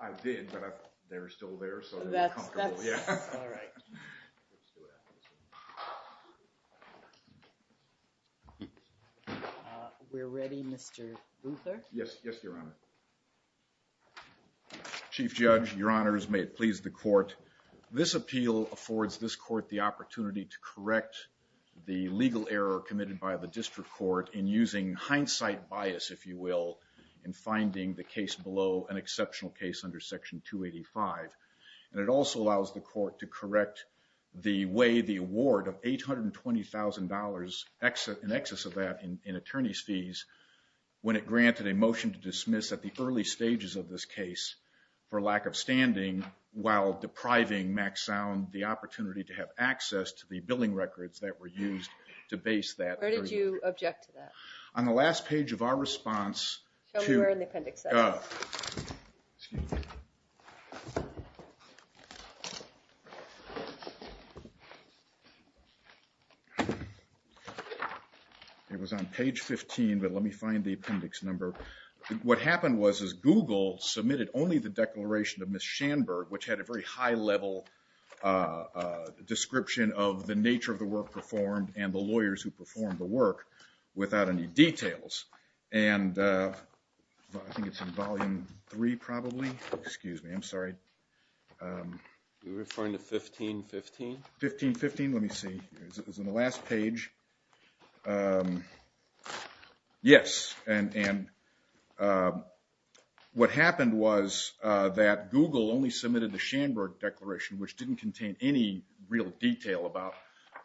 I did, but they're still there, so that's all right. We're ready, Mr. Luther. Yes, yes, Your Honor. Chief Judge, Your Honors, may it please the court. This appeal affords this court the opportunity to correct the legal error committed by the district court in using hindsight bias, if you will, in finding the case below an exceptional case under Section 285. And it also allows the court to correct the way the award of $820,000 in excess of that in attorney's fees when it granted a motion to dismiss at the early stages of this case for lack of standing while depriving Max Sound the opportunity to have access to the billing records that were used to base that. Where did you object to that? On the last page of our response, it was on page 15, but let me find the appendix number. What happened was Google submitted only the declaration of Ms. Schanberg, which had a very high level description of the nature of the work performed and the lawyers who performed the work without any details. And I think it's in volume three, probably. Excuse me, I'm sorry. You're referring to 1515? 1515, let me see. It was on the last page. Yes. And what happened was that Google only submitted the Schanberg declaration, which didn't contain any real detail about-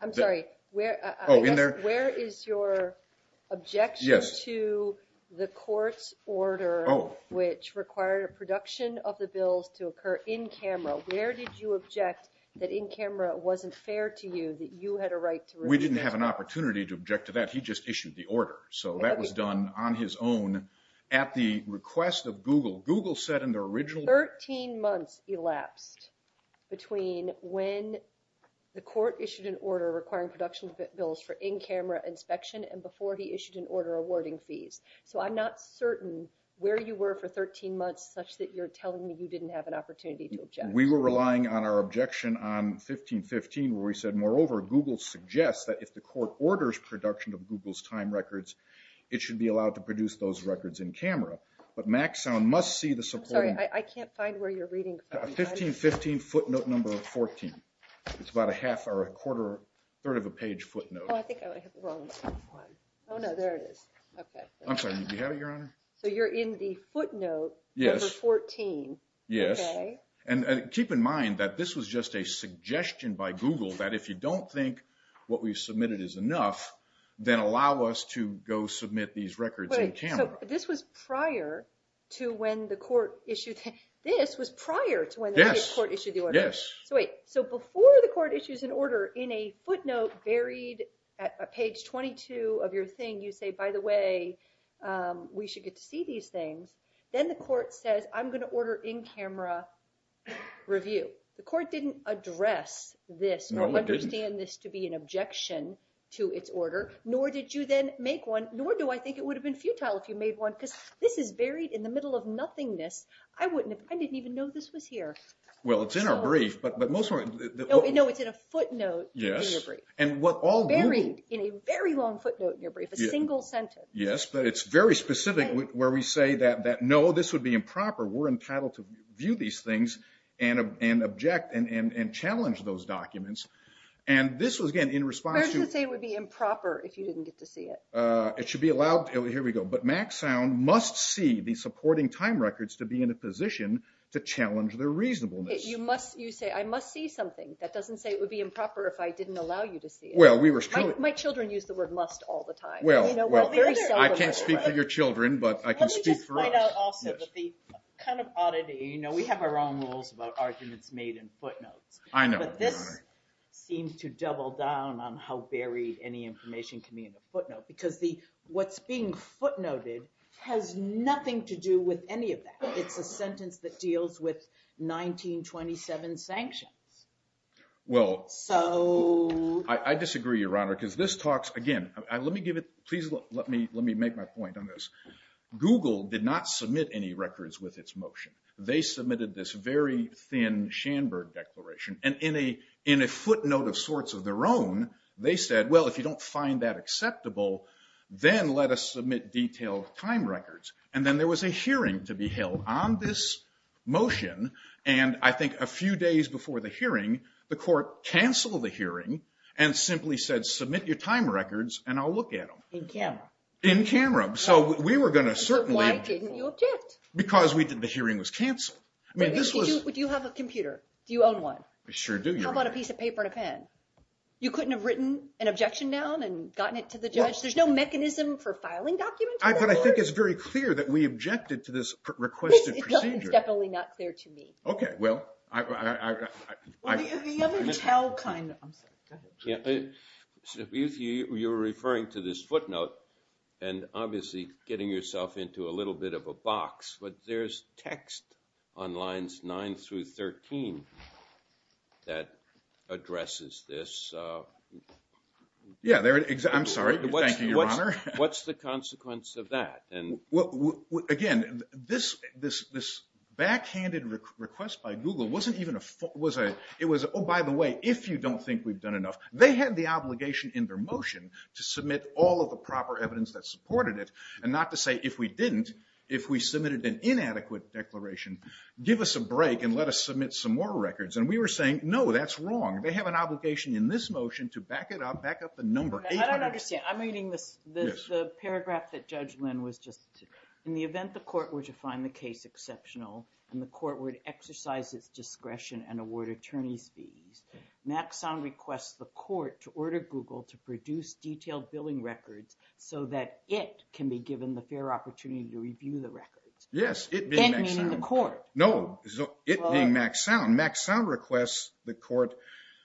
I'm sorry. Oh, in there? Where is your objection to the court's order which required a production of the bills to occur in camera? Where did you object that in camera it wasn't fair to you that you had a right to refuse? We didn't have an opportunity to object to that. He just issued the order. So that was done on his own at the request of Google. Google said in their original- Thirteen months elapsed between when the court issued an order requiring production of bills for in-camera inspection and before he issued an order awarding fees. So I'm not certain where you were for 13 months such that you're telling me you didn't have an opportunity to object. We were relying on our objection on 1515 where we said, moreover, Google suggests that if the court orders production of Google's time records, it should be allowed to produce those records in camera. But Maxown must see the supporting- I'm sorry. I can't find where you're reading from. 1515 footnote number 14. It's about a half or a quarter, third of a page footnote. Oh, I think I have it wrong. Oh, no. There it is. I'm sorry. Do you have it, Your Honor? So you're in the footnote number 14. Yes. Okay. And keep in mind that this was just a suggestion by Google that if you don't think what we've submitted is enough, then allow us to go submit these records in camera. So this was prior to when the court issued- This was prior to when the court issued the order. Yes, yes. So before the court issues an order in a footnote buried at page 22 of your thing, you say, by the way, we should get to see these things. Then the court says, I'm going to order in-camera review. The court didn't address this or understand this to be an objection to its order, nor did you then make one, nor do I think it would have been futile if you made one because this is buried in the middle of nothingness. I didn't even know this was here. Well, it's in our brief, but most of our- No, it's in a footnote in your brief. Yes. Buried in a very long footnote in your brief, a single sentence. Yes, but it's very specific where we say that, no, this would be improper. We're entitled to view these things and object and challenge those documents. And this was, again, in response to- Where does it say it would be improper if you didn't get to see it? It should be allowed. Here we go. But Maxound must see the supporting time records to be in a position to challenge their reasonableness. You say, I must see something. That doesn't say it would be improper if I didn't allow you to see it. Well, we were- My children use the word must all the time. Well, I can't speak for your children, but I can speak for us. Let me just point out also that the kind of oddity, we have our own rules about arguments made in footnotes. I know. But this seems to double down on how buried any information can be in a footnote. Because what's being footnoted has nothing to do with any of that. It's a sentence that deals with 1927 sanctions. Well- So- I disagree, Your Honor, because this talks- Again, let me make my point on this. Google did not submit any records with its motion. They submitted this very thin Schanberg declaration. And in a footnote of sorts of their own, they said, well, if you don't find that acceptable, then let us submit detailed time records. And then there was a hearing to be held on this motion. And I think a few days before the hearing, the court canceled the hearing and simply said, submit your time records, and I'll look at them. In camera. In camera. So we were going to certainly- Why didn't you object? Because the hearing was canceled. I mean, this was- Do you have a computer? Do you own one? I sure do, Your Honor. How about a piece of paper and a pen? You couldn't have written an objection down and gotten it to the judge? There's no mechanism for filing documents? But I think it's very clear that we objected to this requested procedure. It's definitely not clear to me. Okay. Well, I- Well, the other tell kind- I'm sorry. Go ahead. You're referring to this footnote and obviously getting yourself into a little bit of a box. But there's text on lines 9 through 13 that addresses this. Yeah. I'm sorry. Thank you, Your Honor. What's the consequence of that? Again, this backhanded request by Google wasn't even a- It was, oh, by the way, if you don't think we've done enough. They had the obligation in their motion to submit all of the proper evidence that supported it and not to say, if we didn't, if we submitted an inadequate declaration, give us a break and let us submit some more records. And we were saying, no, that's wrong. They have an obligation in this motion to back it up, back up the number. I don't understand. I'm reading the paragraph that Judge Lynn was just- In the event the court were to find the case exceptional and the court were to exercise its discretion and award attorney's fees, Maxound requests the court to order Google to produce detailed billing records so that it can be given the fair opportunity to review the records. Yes. It being Maxound. And meaning the court. No. It being Maxound. Maxound requests the court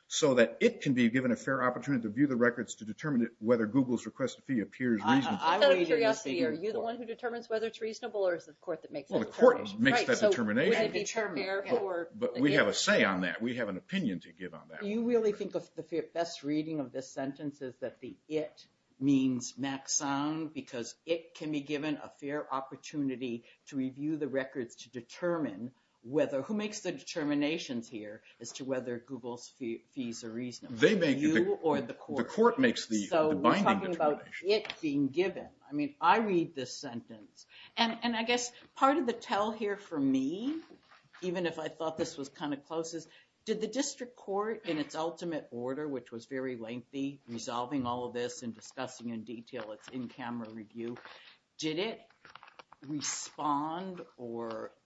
so that it can be given a fair opportunity to view the records to determine whether Google's request of fee appears reasonable. I'm kind of curious here. Are you the one who determines whether it's reasonable or is it the court that makes that determination? Well, the court makes that determination. But we have a say on that. We have an opinion to give on that. Do you really think the best reading of this sentence is that the it means Maxound because it can be given a fair opportunity to review the records to determine whether, who makes the determinations here as to whether Google's fees are reasonable, you or the court? The court makes the binding determination. So we're talking about it being given. I mean, I read this sentence. And I guess part of the tell here for me, even if I thought this was kind of close, is did the district court in its ultimate order, which was very lengthy, resolving all of this and discussing in detail its in-camera review, did it respond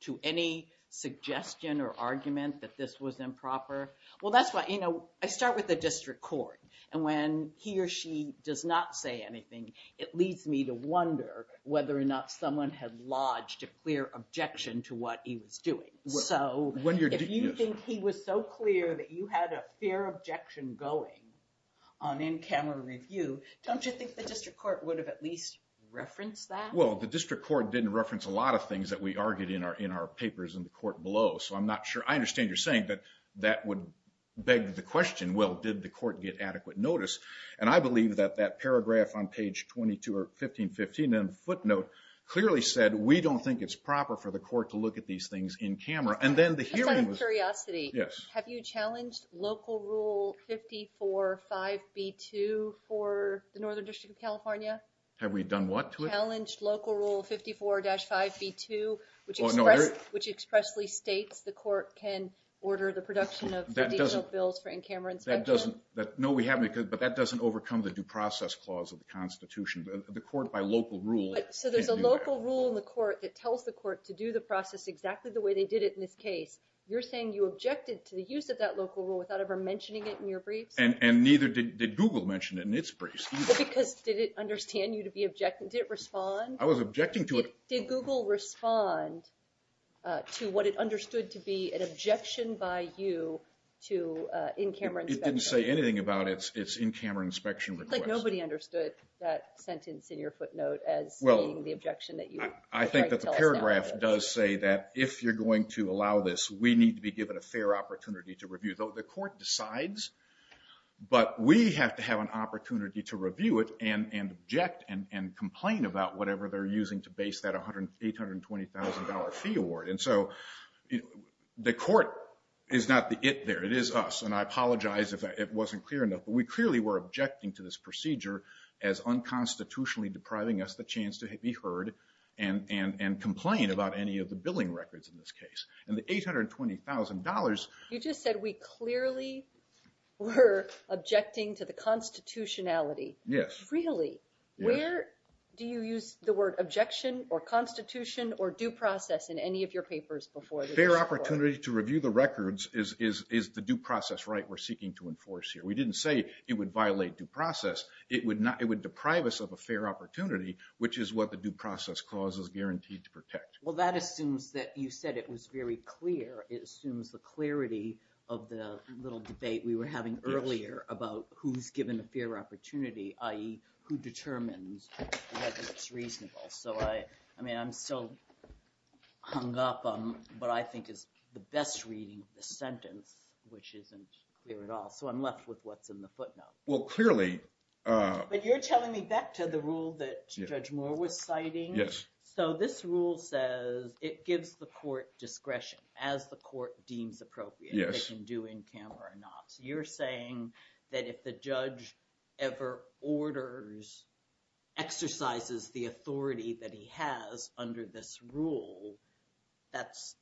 to any suggestion or argument that this was improper? Well, that's why, you know, I start with the district court. And when he or she does not say anything, it leads me to wonder whether or not someone had lodged a clear objection to what he was doing. So if you think he was so clear that you had a fair objection going on in-camera review, don't you think the district court would have at least referenced that? Well, the district court didn't reference a lot of things that we argued in our papers in the court below. So I'm not sure. I understand you're saying that that would beg the question, well, did the court get adequate notice? And I believe that that paragraph on page 22 or 1515 in the footnote clearly said, we don't think it's proper for the court to look at these things in-camera. And then the hearing was – Just out of curiosity, have you challenged Local Rule 54-5b-2 for the Northern District of California? Have we done what to it? Challenged Local Rule 54-5b-2, which expressly states the court can order the production of the detailed bills for in-camera inspection? No, we haven't. But that doesn't overcome the due process clause of the Constitution. The court, by local rule – So there's a local rule in the court that tells the court to do the process exactly the way they did it in this case. You're saying you objected to the use of that local rule without ever mentioning it in your briefs? And neither did Google mention it in its briefs either. Well, because did it understand you to be objecting? Did it respond? I was objecting to it. Did Google respond to what it understood to be an objection by you to in-camera inspection? It didn't say anything about its in-camera inspection request. It looks like nobody understood that sentence in your footnote as being the objection that you – I think that the paragraph does say that if you're going to allow this, we need to be given a fair opportunity to review. The court decides, but we have to have an opportunity to review it and object and complain about whatever they're using to base that $820,000 fee award. And so the court is not the it there. It is us, and I apologize if it wasn't clear enough. But we clearly were objecting to this procedure as unconstitutionally depriving us the chance to be heard and complain about any of the billing records in this case. And the $820,000 – You just said we clearly were objecting to the constitutionality. Yes. Really? Where do you use the word objection or constitution or due process in any of your papers before the court? Fair opportunity to review the records is the due process right we're seeking to enforce here. We didn't say it would violate due process. It would deprive us of a fair opportunity, which is what the due process clause is guaranteed to protect. Well, that assumes that you said it was very clear. It assumes the clarity of the little debate we were having earlier about who's given a fair opportunity, i.e., who determines whether it's reasonable. So I mean, I'm still hung up on what I think is the best reading of the sentence, which isn't clear at all. So I'm left with what's in the footnote. Well, clearly – But you're telling me back to the rule that Judge Moore was citing. Yes. So this rule says it gives the court discretion as the court deems appropriate. Yes. They can do in camp or not. So you're saying that if the judge ever orders, exercises the authority that he has under this rule, that's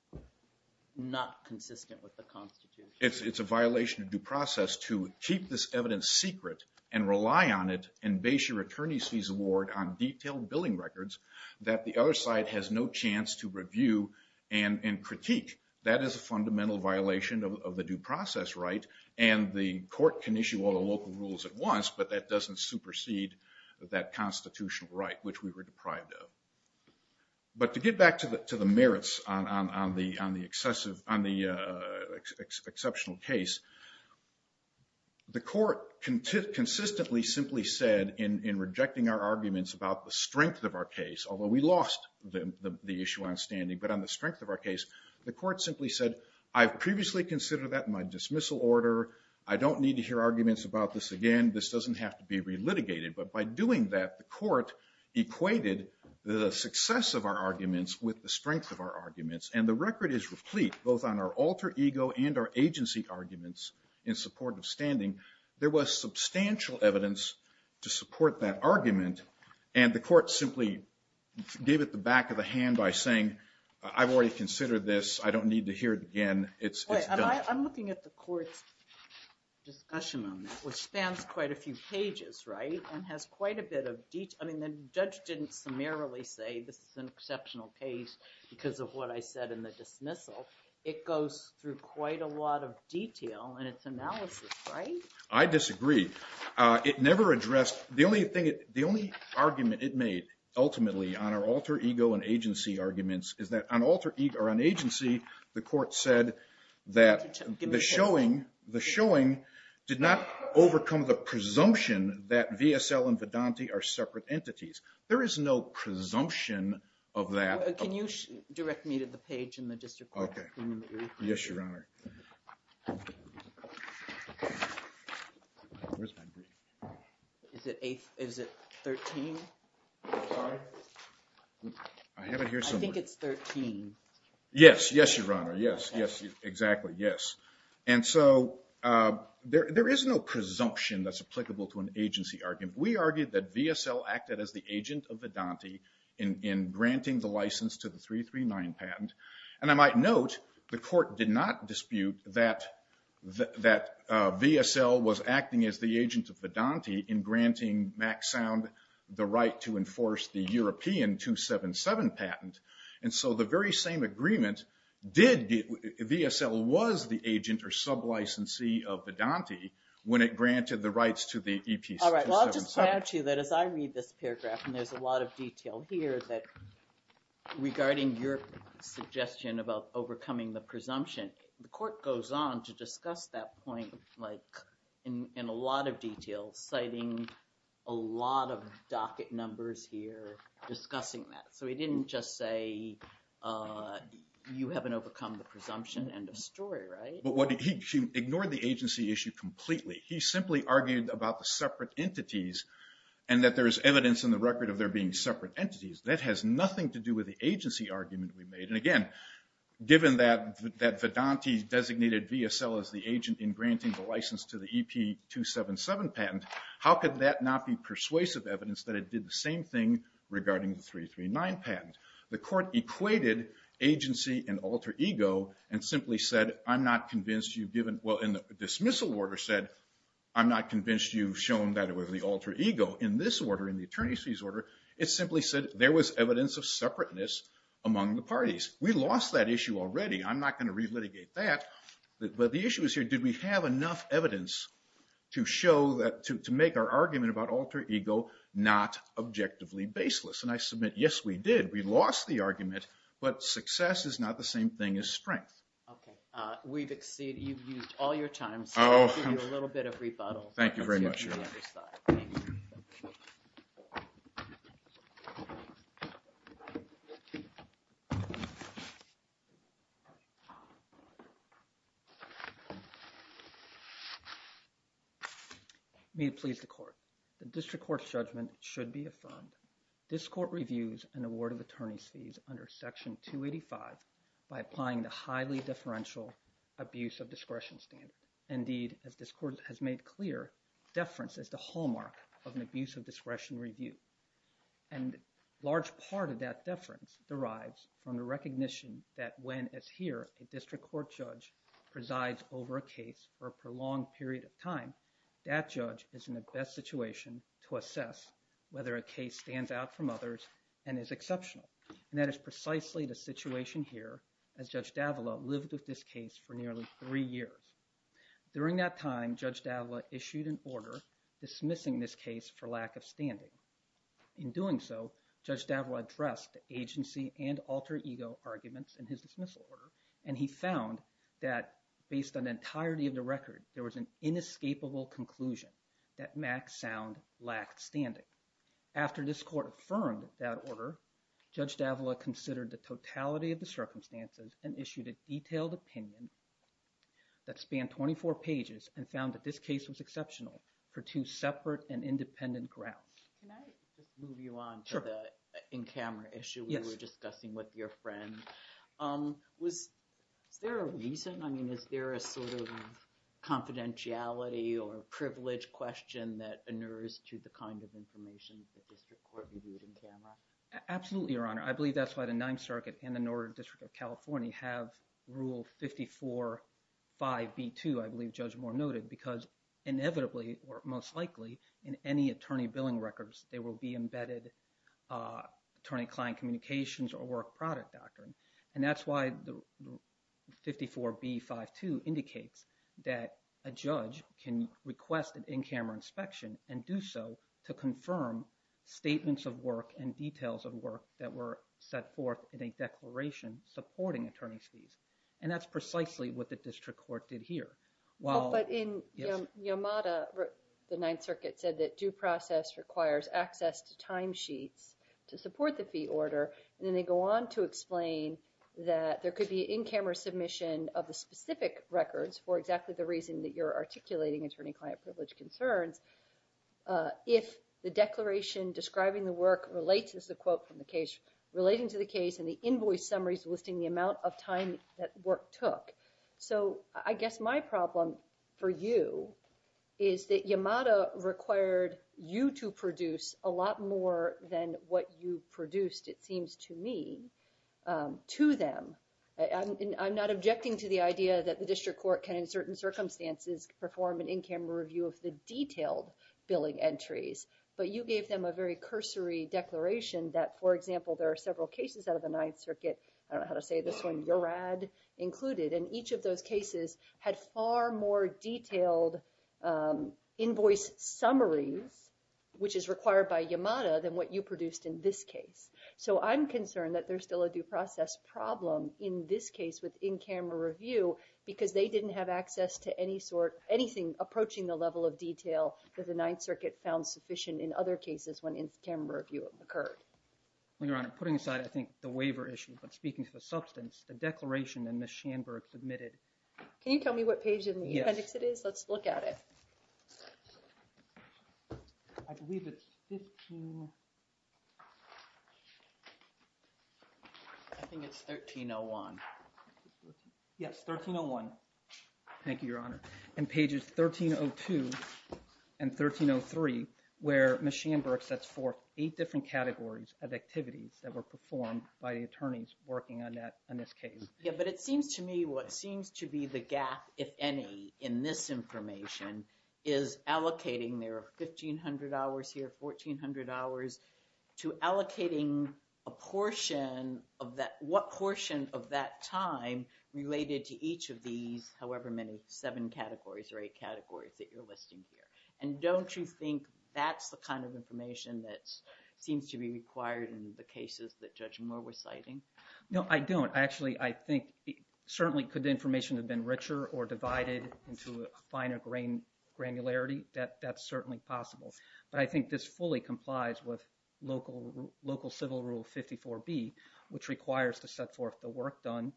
not consistent with the Constitution. It's a violation of due process to keep this evidence secret and rely on it and base your attorney's fees award on detailed billing records that the other side has no chance to review and critique. That is a fundamental violation of the due process right, and the court can issue all the local rules at once, but that doesn't supersede that constitutional right, which we were deprived of. But to get back to the merits on the exceptional case, the court consistently simply said, in rejecting our arguments about the strength of our case, although we lost the issue on standing, but on the strength of our case, the court simply said, I've previously considered that in my dismissal order. I don't need to hear arguments about this again. This doesn't have to be re-litigated. But by doing that, the court equated the success of our arguments with the strength of our arguments, and the record is replete, both on our alter ego and our agency arguments in support of standing. There was substantial evidence to support that argument, and the court simply gave it the back of the hand by saying, I've already considered this. I don't need to hear it again. It's done. I'm looking at the court's discussion on this, which spans quite a few pages, right, and has quite a bit of detail. I mean, the judge didn't summarily say this is an exceptional case because of what I said in the dismissal. It goes through quite a lot of detail in its analysis, right? I disagree. The only argument it made ultimately on our alter ego and agency arguments is that on alter ego or on agency, the court said that the showing did not overcome the presumption that VSL and Vedante are separate entities. There is no presumption of that. Can you direct me to the page in the district court opinion that you're referring to? Yes, Your Honor. Is it 13? Sorry? I have it here somewhere. I think it's 13. Yes. Yes, Your Honor. Yes. Yes. Exactly. Yes. And so there is no presumption that's applicable to an agency argument. We argued that VSL acted as the agent of Vedante in granting the license to the 339 patent, and I might note the court did not dispute that VSL was acting as the agent of Vedante in granting Mack Sound the right to enforce the European 277 patent, and so the very same agreement did get VSL was the agent or sub-licensee of Vedante when it granted the rights to the EP 277. All right. Well, I'll just point out to you that as I read this paragraph, and there's a lot of detail here regarding your suggestion about overcoming the presumption, the court goes on to discuss that point in a lot of detail, citing a lot of docket numbers here discussing that. So he didn't just say you haven't overcome the presumption and destroy it, right? He ignored the agency issue completely. He simply argued about the separate entities and that there is evidence in the record of there being separate entities. That has nothing to do with the agency argument we made, and again, given that Vedante designated VSL as the agent in granting the license to the EP 277 patent, how could that not be persuasive evidence that it did the same thing regarding the 339 patent? The court equated agency and alter ego and simply said, well, in the dismissal order said, I'm not convinced you've shown that it was the alter ego. In this order, in the attorney's fees order, it simply said there was evidence of separateness among the parties. We lost that issue already. I'm not going to relitigate that, but the issue is here, did we have enough evidence to make our argument about alter ego not objectively baseless? And I submit, yes, we did. We lost the argument, but success is not the same thing as strength. Okay, we've exceeded, you've used all your time, so I'll give you a little bit of rebuttal. Thank you very much. May it please the court, the district court's judgment should be affirmed. This court reviews an award of attorney's fees under Section 285 by applying the highly differential abuse of discretion standard. Indeed, as this court has made clear, deference is the hallmark of an abuse of discretion review. And a large part of that deference derives from the recognition that when, as here, a district court judge presides over a case for a prolonged period of time, that judge is in the best situation to assess whether a case stands out from others and is exceptional. And that is precisely the situation here, as Judge Davila lived with this case for nearly three years. During that time, Judge Davila issued an order dismissing this case for lack of standing. In doing so, Judge Davila addressed agency and alter ego arguments in his dismissal order, and he found that based on the entirety of the record, there was an inescapable conclusion that Max Sound lacked standing. After this court affirmed that order, Judge Davila considered the totality of the circumstances and issued a detailed opinion that spanned 24 pages and found that this case was exceptional for two separate and independent grounds. Can I just move you on to the in-camera issue we were discussing with your friend? Was there a reason, I mean, is there a sort of confidentiality or privilege question that inures to the kind of information the district court reviewed in camera? Absolutely, Your Honor. I believe that's why the Ninth Circuit and the Northern District of California have Rule 545B2, I believe Judge Moore noted, because inevitably, or most likely, in any attorney billing records, there will be embedded attorney-client communications or work-product doctrine. And that's why 54B52 indicates that a judge can request an in-camera inspection and do so to confirm statements of work and details of work that were set forth in a declaration supporting attorney's fees. And that's precisely what the district court did here. But in Yamada, the Ninth Circuit said that due process requires access to timesheets to support the fee order, and then they go on to explain that there could be in-camera submission of the specific records for exactly the reason that you're articulating attorney-client privilege concerns if the declaration describing the work relates, this is a quote from the case, relating to the case and the invoice summaries listing the amount of time that work took. So I guess my problem for you is that Yamada required you to produce a lot more than what you produced, it seems to me, to them. I'm not objecting to the idea that the district court can, in certain circumstances, perform an in-camera review of the detailed billing entries, but you gave them a very cursory declaration that, for example, there are several cases out of the Ninth Circuit, I don't know how to say this one, and each of those cases had far more detailed invoice summaries, which is required by Yamada, than what you produced in this case. So I'm concerned that there's still a due process problem in this case with in-camera review because they didn't have access to anything approaching the level of detail that the Ninth Circuit found sufficient in other cases when in-camera review occurred. Your Honor, putting aside, I think, the waiver issue, but speaking to the substance, the declaration that Ms. Shanberg submitted. Can you tell me what page in the appendix it is? Let's look at it. I believe it's 15... I think it's 1301. Yes, 1301. Thank you, Your Honor. And pages 1302 and 1303, where Ms. Shanberg sets forth eight different categories of activities that were performed by the attorneys working on that, on this case. Yeah, but it seems to me what seems to be the gap, if any, in this information, is allocating their 1,500 hours here, 1,400 hours, to allocating a portion of that, what portion of that time related to each of these, however many, seven categories or eight categories that you're listing here. And don't you think that's the kind of information that seems to be required in the cases that Judge Moore was citing? No, I don't. Actually, I think certainly could the information have been richer or divided into a finer granularity? That's certainly possible. But I think this fully complies with local civil rule 54B, which requires to set forth the work done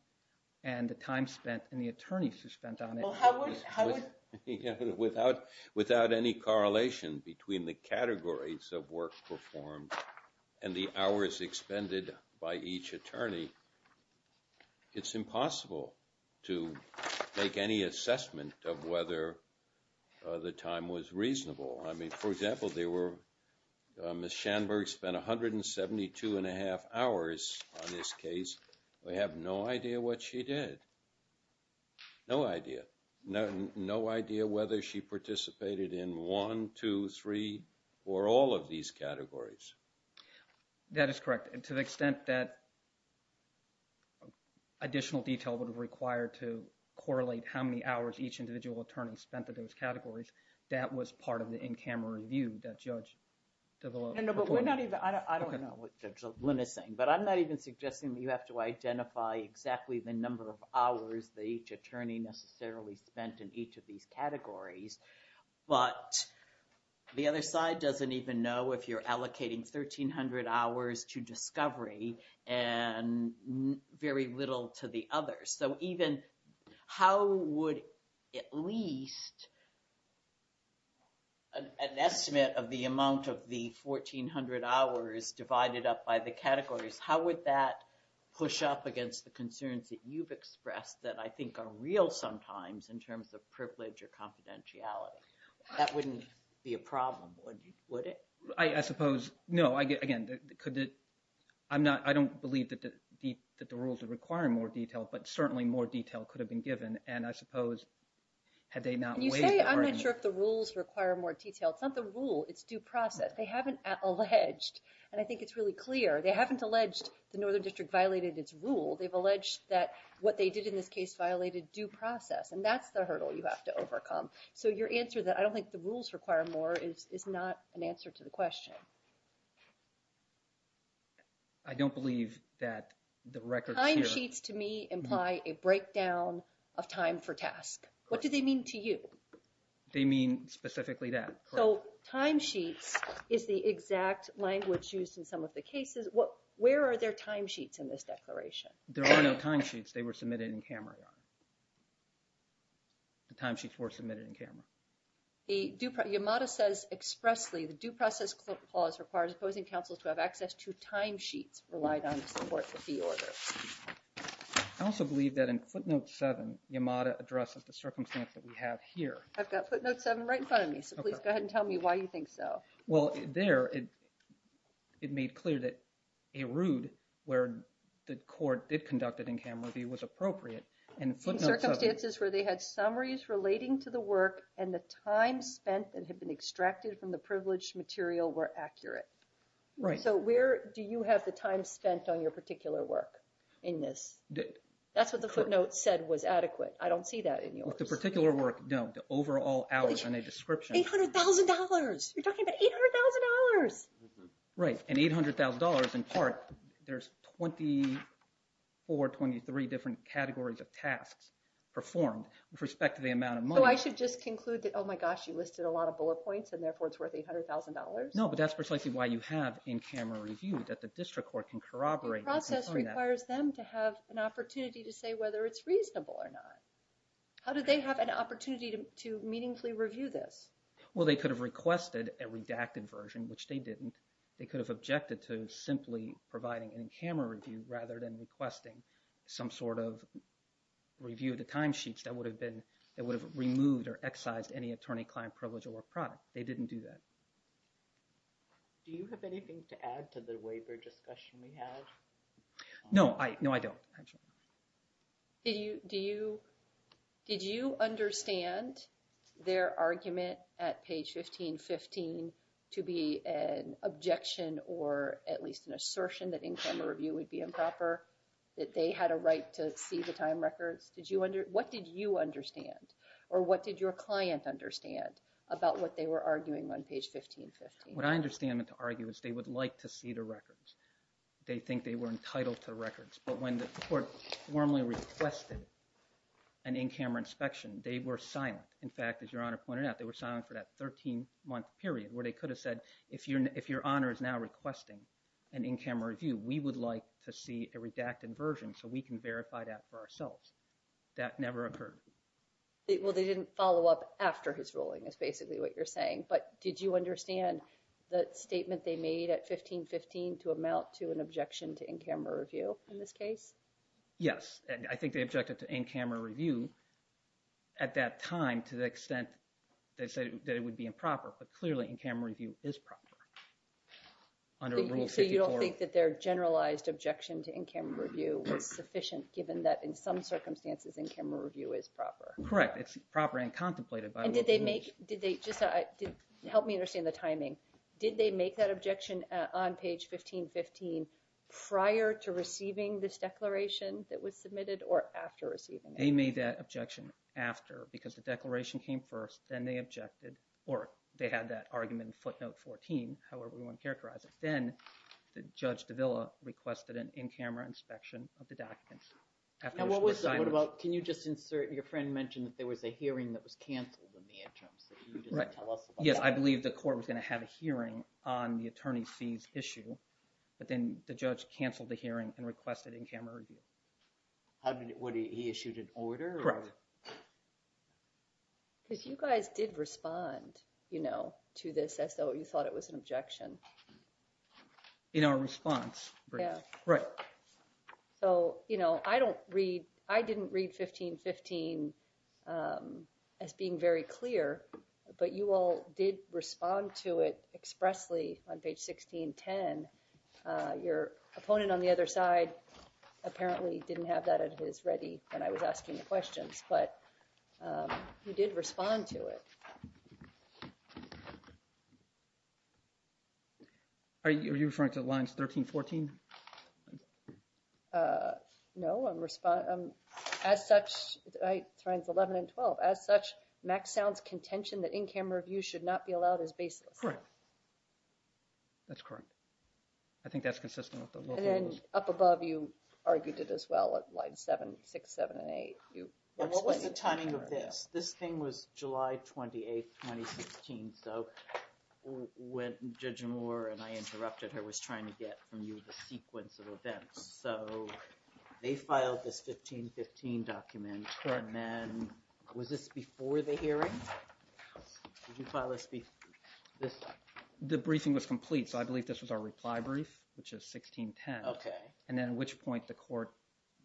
and the time spent and the attorneys who spent on it. Without any correlation between the categories of work performed and the hours expended by each attorney, it's impossible to make any assessment of whether the time was reasonable. I mean, for example, Ms. Shanberg spent 172 1⁄2 hours on this case. We have no idea what she did. No idea. No idea whether she participated in one, two, three, or all of these categories. That is correct. And to the extent that additional detail would be required to correlate how many hours each individual attorney spent in those categories, that was part of the in-camera review that Judge... No, no, but we're not even... I don't know what Judge Lin is saying. But I'm not even suggesting that you have to identify exactly the number of hours that each attorney necessarily spent in each of these categories. But the other side doesn't even know if you're allocating 1300 hours to discovery and very little to the others. So even how would at least an estimate of the amount of the 1400 hours divided up by the categories, how would that push up against the concerns that you've expressed that I think are real sometimes in terms of privilege or confidentiality? That wouldn't be a problem, would it? I suppose... no, again, could it... I don't believe that the rules would require more detail, but certainly more detail could have been given. And I suppose had they not waived the burden... When you say, I'm not sure if the rules require more detail, it's not the rule, it's due process. They haven't alleged, and I think it's really clear, they haven't alleged the Northern District violated its rule. They've alleged that what they did in this case violated due process, and that's the hurdle you have to overcome. is not an answer to the question. I don't believe that the records here... Timesheets to me imply a breakdown of time for task. What do they mean to you? They mean specifically that. So timesheets is the exact language used in some of the cases. Where are their timesheets in this declaration? There are no timesheets. They were submitted in camera. The timesheets were submitted in camera. Yamada says expressly, the due process clause requires opposing counsels to have access to timesheets relied on to support the fee order. I also believe that in footnote 7, Yamada addresses the circumstance that we have here. I've got footnote 7 right in front of me, so please go ahead and tell me why you think so. Well, there it made clear that a route where the court did conduct it in camera view was appropriate. In circumstances where they had summaries relating to the work and the time spent that had been extracted from the privileged material were accurate. Right. So where do you have the time spent on your particular work in this? That's what the footnote said was adequate. I don't see that in yours. The particular work, no. The overall hours in a description. $800,000. You're talking about $800,000. Right. And $800,000 in part, there's 24, 23 different categories of tasks performed with respect to the amount of money. So I should just conclude that, oh, my gosh, you listed a lot of bullet points, and therefore it's worth $800,000? No, but that's precisely why you have in camera review, that the district court can corroborate. The process requires them to have an opportunity to say whether it's reasonable or not. How do they have an opportunity to meaningfully review this? Well, they could have requested a redacted version, which they didn't. They could have objected to simply providing an in camera review rather than requesting some sort of review of the timesheets that would have removed or excised any attorney-client privilege or product. They didn't do that. Do you have anything to add to the waiver discussion we had? No, I don't. Did you understand their argument at page 1515 to be an objection or at least an assertion that in camera review would be improper, that they had a right to see the time records? What did you understand? Or what did your client understand about what they were arguing on page 1515? What I understand them to argue is they would like to see the records. They think they were entitled to the records. But when the court formally requested an in camera inspection, they were silent. In fact, as Your Honor pointed out, they were silent for that 13-month period where they could have said, if Your Honor is now requesting an in camera review, we would like to see a redacted version so we can verify that for ourselves. That never occurred. Well, they didn't follow up after his ruling is basically what you're saying. But did you understand the statement they made at 1515 to amount to an objection to in camera review in this case? Yes, and I think they objected to in camera review at that time to the extent they said that it would be improper. But clearly in camera review is proper under Rule 54. So you don't think that their generalized objection to in camera review was sufficient given that in some circumstances in camera review is proper? Correct. It's proper and contemplated by Rule 54. Help me understand the timing. Did they make that objection on page 1515 prior to receiving this declaration that was submitted or after receiving it? They made that objection after because the declaration came first, then they objected, or they had that argument in footnote 14, however you want to characterize it. Then Judge Davila requested an in camera inspection of the documents. Can you just insert – your friend mentioned that there was a hearing that was canceled in the interim, so you didn't tell us about that. Yes, I believe the court was going to have a hearing on the attorney's fees issue, but then the judge canceled the hearing and requested in camera review. What, he issued an order? Correct. Because you guys did respond, you know, to this as though you thought it was an objection. In our response. Yeah. Right. So, you know, I don't read – I didn't read 1515 as being very clear, but you all did respond to it expressly on page 1610. Your opponent on the other side apparently didn't have that at his ready when I was asking the questions, but you did respond to it. Are you referring to lines 13, 14? No, I'm – as such, lines 11 and 12, as such, Mack sounds contention that in camera review should not be allowed as basis. Correct. That's correct. I think that's consistent with the local rules. Up above, you argued it as well at lines 7, 6, 7, and 8. What was the timing of this? This thing was July 28, 2016, so when Judge Moore and I interrupted her was trying to get from you the sequence of events. So, they filed this 1515 document, and then was this before the hearing? Did you file this before? The briefing was complete, so I believe this was our reply brief, which is 1610. Okay. And at which point the court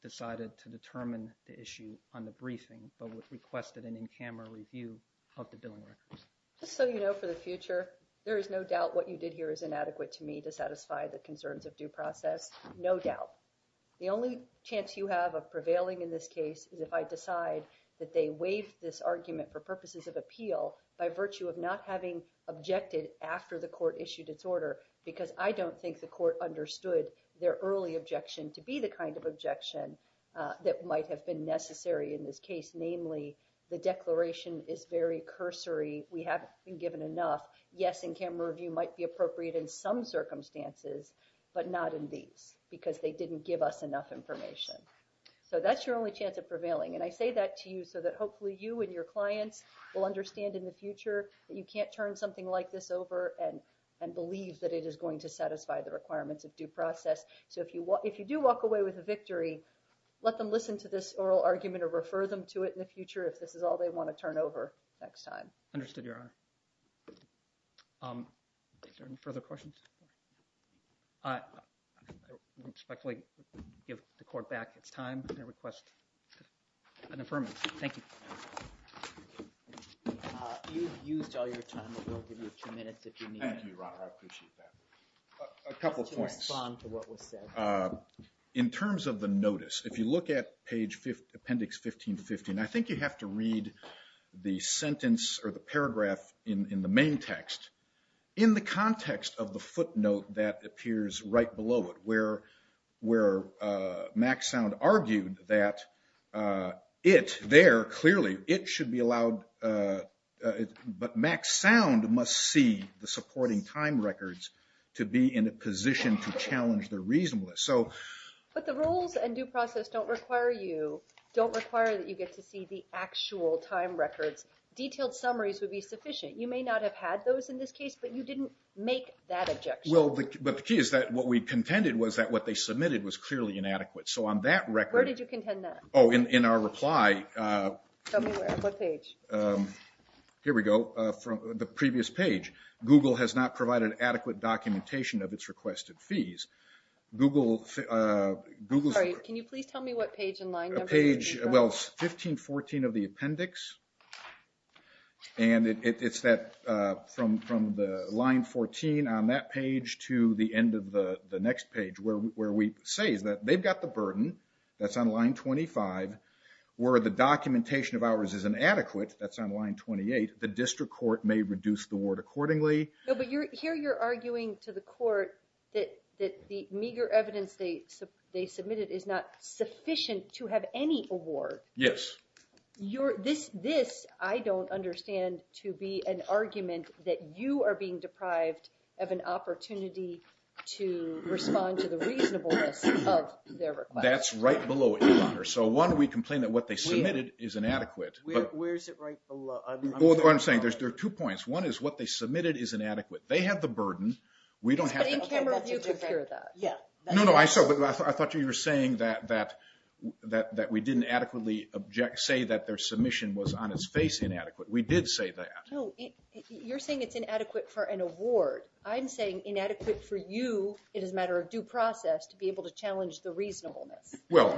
decided to determine the issue on the briefing, but requested an in-camera review of the billing records. Just so you know for the future, there is no doubt what you did here is inadequate to me to satisfy the concerns of due process. No doubt. The only chance you have of prevailing in this case is if I decide that they waive this argument for purposes of appeal by virtue of not having objected after the court issued its order because I don't think the court understood their early objection to be the kind of objection that might have been necessary in this case. Namely, the declaration is very cursory. We haven't been given enough. Yes, in-camera review might be appropriate in some circumstances, but not in these because they didn't give us enough information. So, that's your only chance of prevailing. And I say that to you so that hopefully you and your clients will understand in the future that you can't turn something like this over and believe that it is going to satisfy the requirements of due process. So, if you do walk away with a victory, let them listen to this oral argument or refer them to it in the future if this is all they want to turn over next time. Understood, Your Honor. Are there any further questions? I respectfully give the court back its time and request an affirmative. Thank you. You've used all your time. We'll give you two minutes if you need. Thank you, Your Honor. I appreciate that. A couple points. Just to respond to what was said. In terms of the notice, if you look at page appendix 1515, I think you have to read the sentence or the paragraph in the main text in the context of the footnote that appears right below it where Mack Sound argued that it, there clearly, it should be allowed, but Mack Sound must see the supporting time records to be in a position to challenge the reasonableness. But the rules and due process don't require that you get to see the actual time records. Detailed summaries would be sufficient. You may not have had those in this case, but you didn't make that objection. Well, but the key is that what we contended was that what they submitted was clearly inadequate. So on that record. Where did you contend that? Oh, in our reply. Tell me what page. Here we go. The previous page. Google has not provided adequate documentation of its requested fees. Google's. Sorry, can you please tell me what page and line number? Page, well, it's 1514 of the appendix. And it's that from the line 14 on that page to the end of the next page where we say is that they've got the burden, that's on line 25, where the documentation of ours is inadequate, that's on line 28, the district court may reduce the award accordingly. No, but here you're arguing to the court that the meager evidence they submitted is not sufficient to have any award. Yes. This I don't understand to be an argument that you are being deprived of an opportunity to respond to the reasonableness of their request. That's right below it, Your Honor. So one, we complain that what they submitted is inadequate. Where is it right below? What I'm saying, there are two points. One is what they submitted is inadequate. They have the burden. We don't have to. But in camera, you could hear that. Yeah. No, no, I saw. I thought you were saying that we didn't adequately say that their submission was on its face inadequate. We did say that. No, you're saying it's inadequate for an award. I'm saying inadequate for you, it is a matter of due process, to be able to challenge the reasonableness. Well,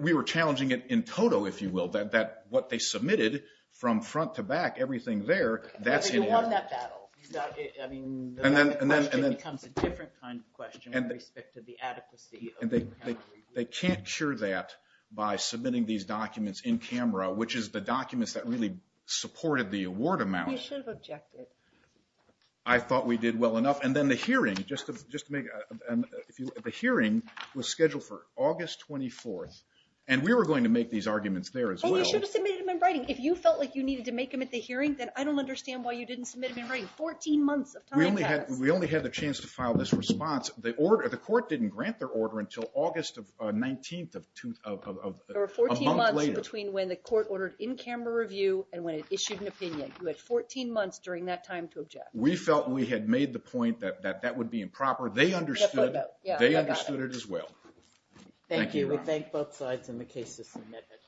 we were challenging it in total, if you will, that what they submitted from front to back, everything there, that's inadequate. But you won that battle. The question becomes a different kind of question with respect to the adequacy of the camera review. They can't cure that by submitting these documents in camera, which is the documents that really supported the award amount. You should have objected. I thought we did well enough. And then the hearing, just to make a, the hearing was scheduled for August 24th, and we were going to make these arguments there as well. And you should have submitted them in writing. If you felt like you needed to make them at the hearing, then I don't understand why you didn't submit them in writing. 14 months of time passed. We only had the chance to file this response. The court didn't grant their order until August 19th of a month later. There were 14 months between when the court ordered in-camera review and when it issued an opinion. You had 14 months during that time to object. We felt we had made the point that that would be improper. They understood it as well. Thank you. We thank both sides in the case to submit it.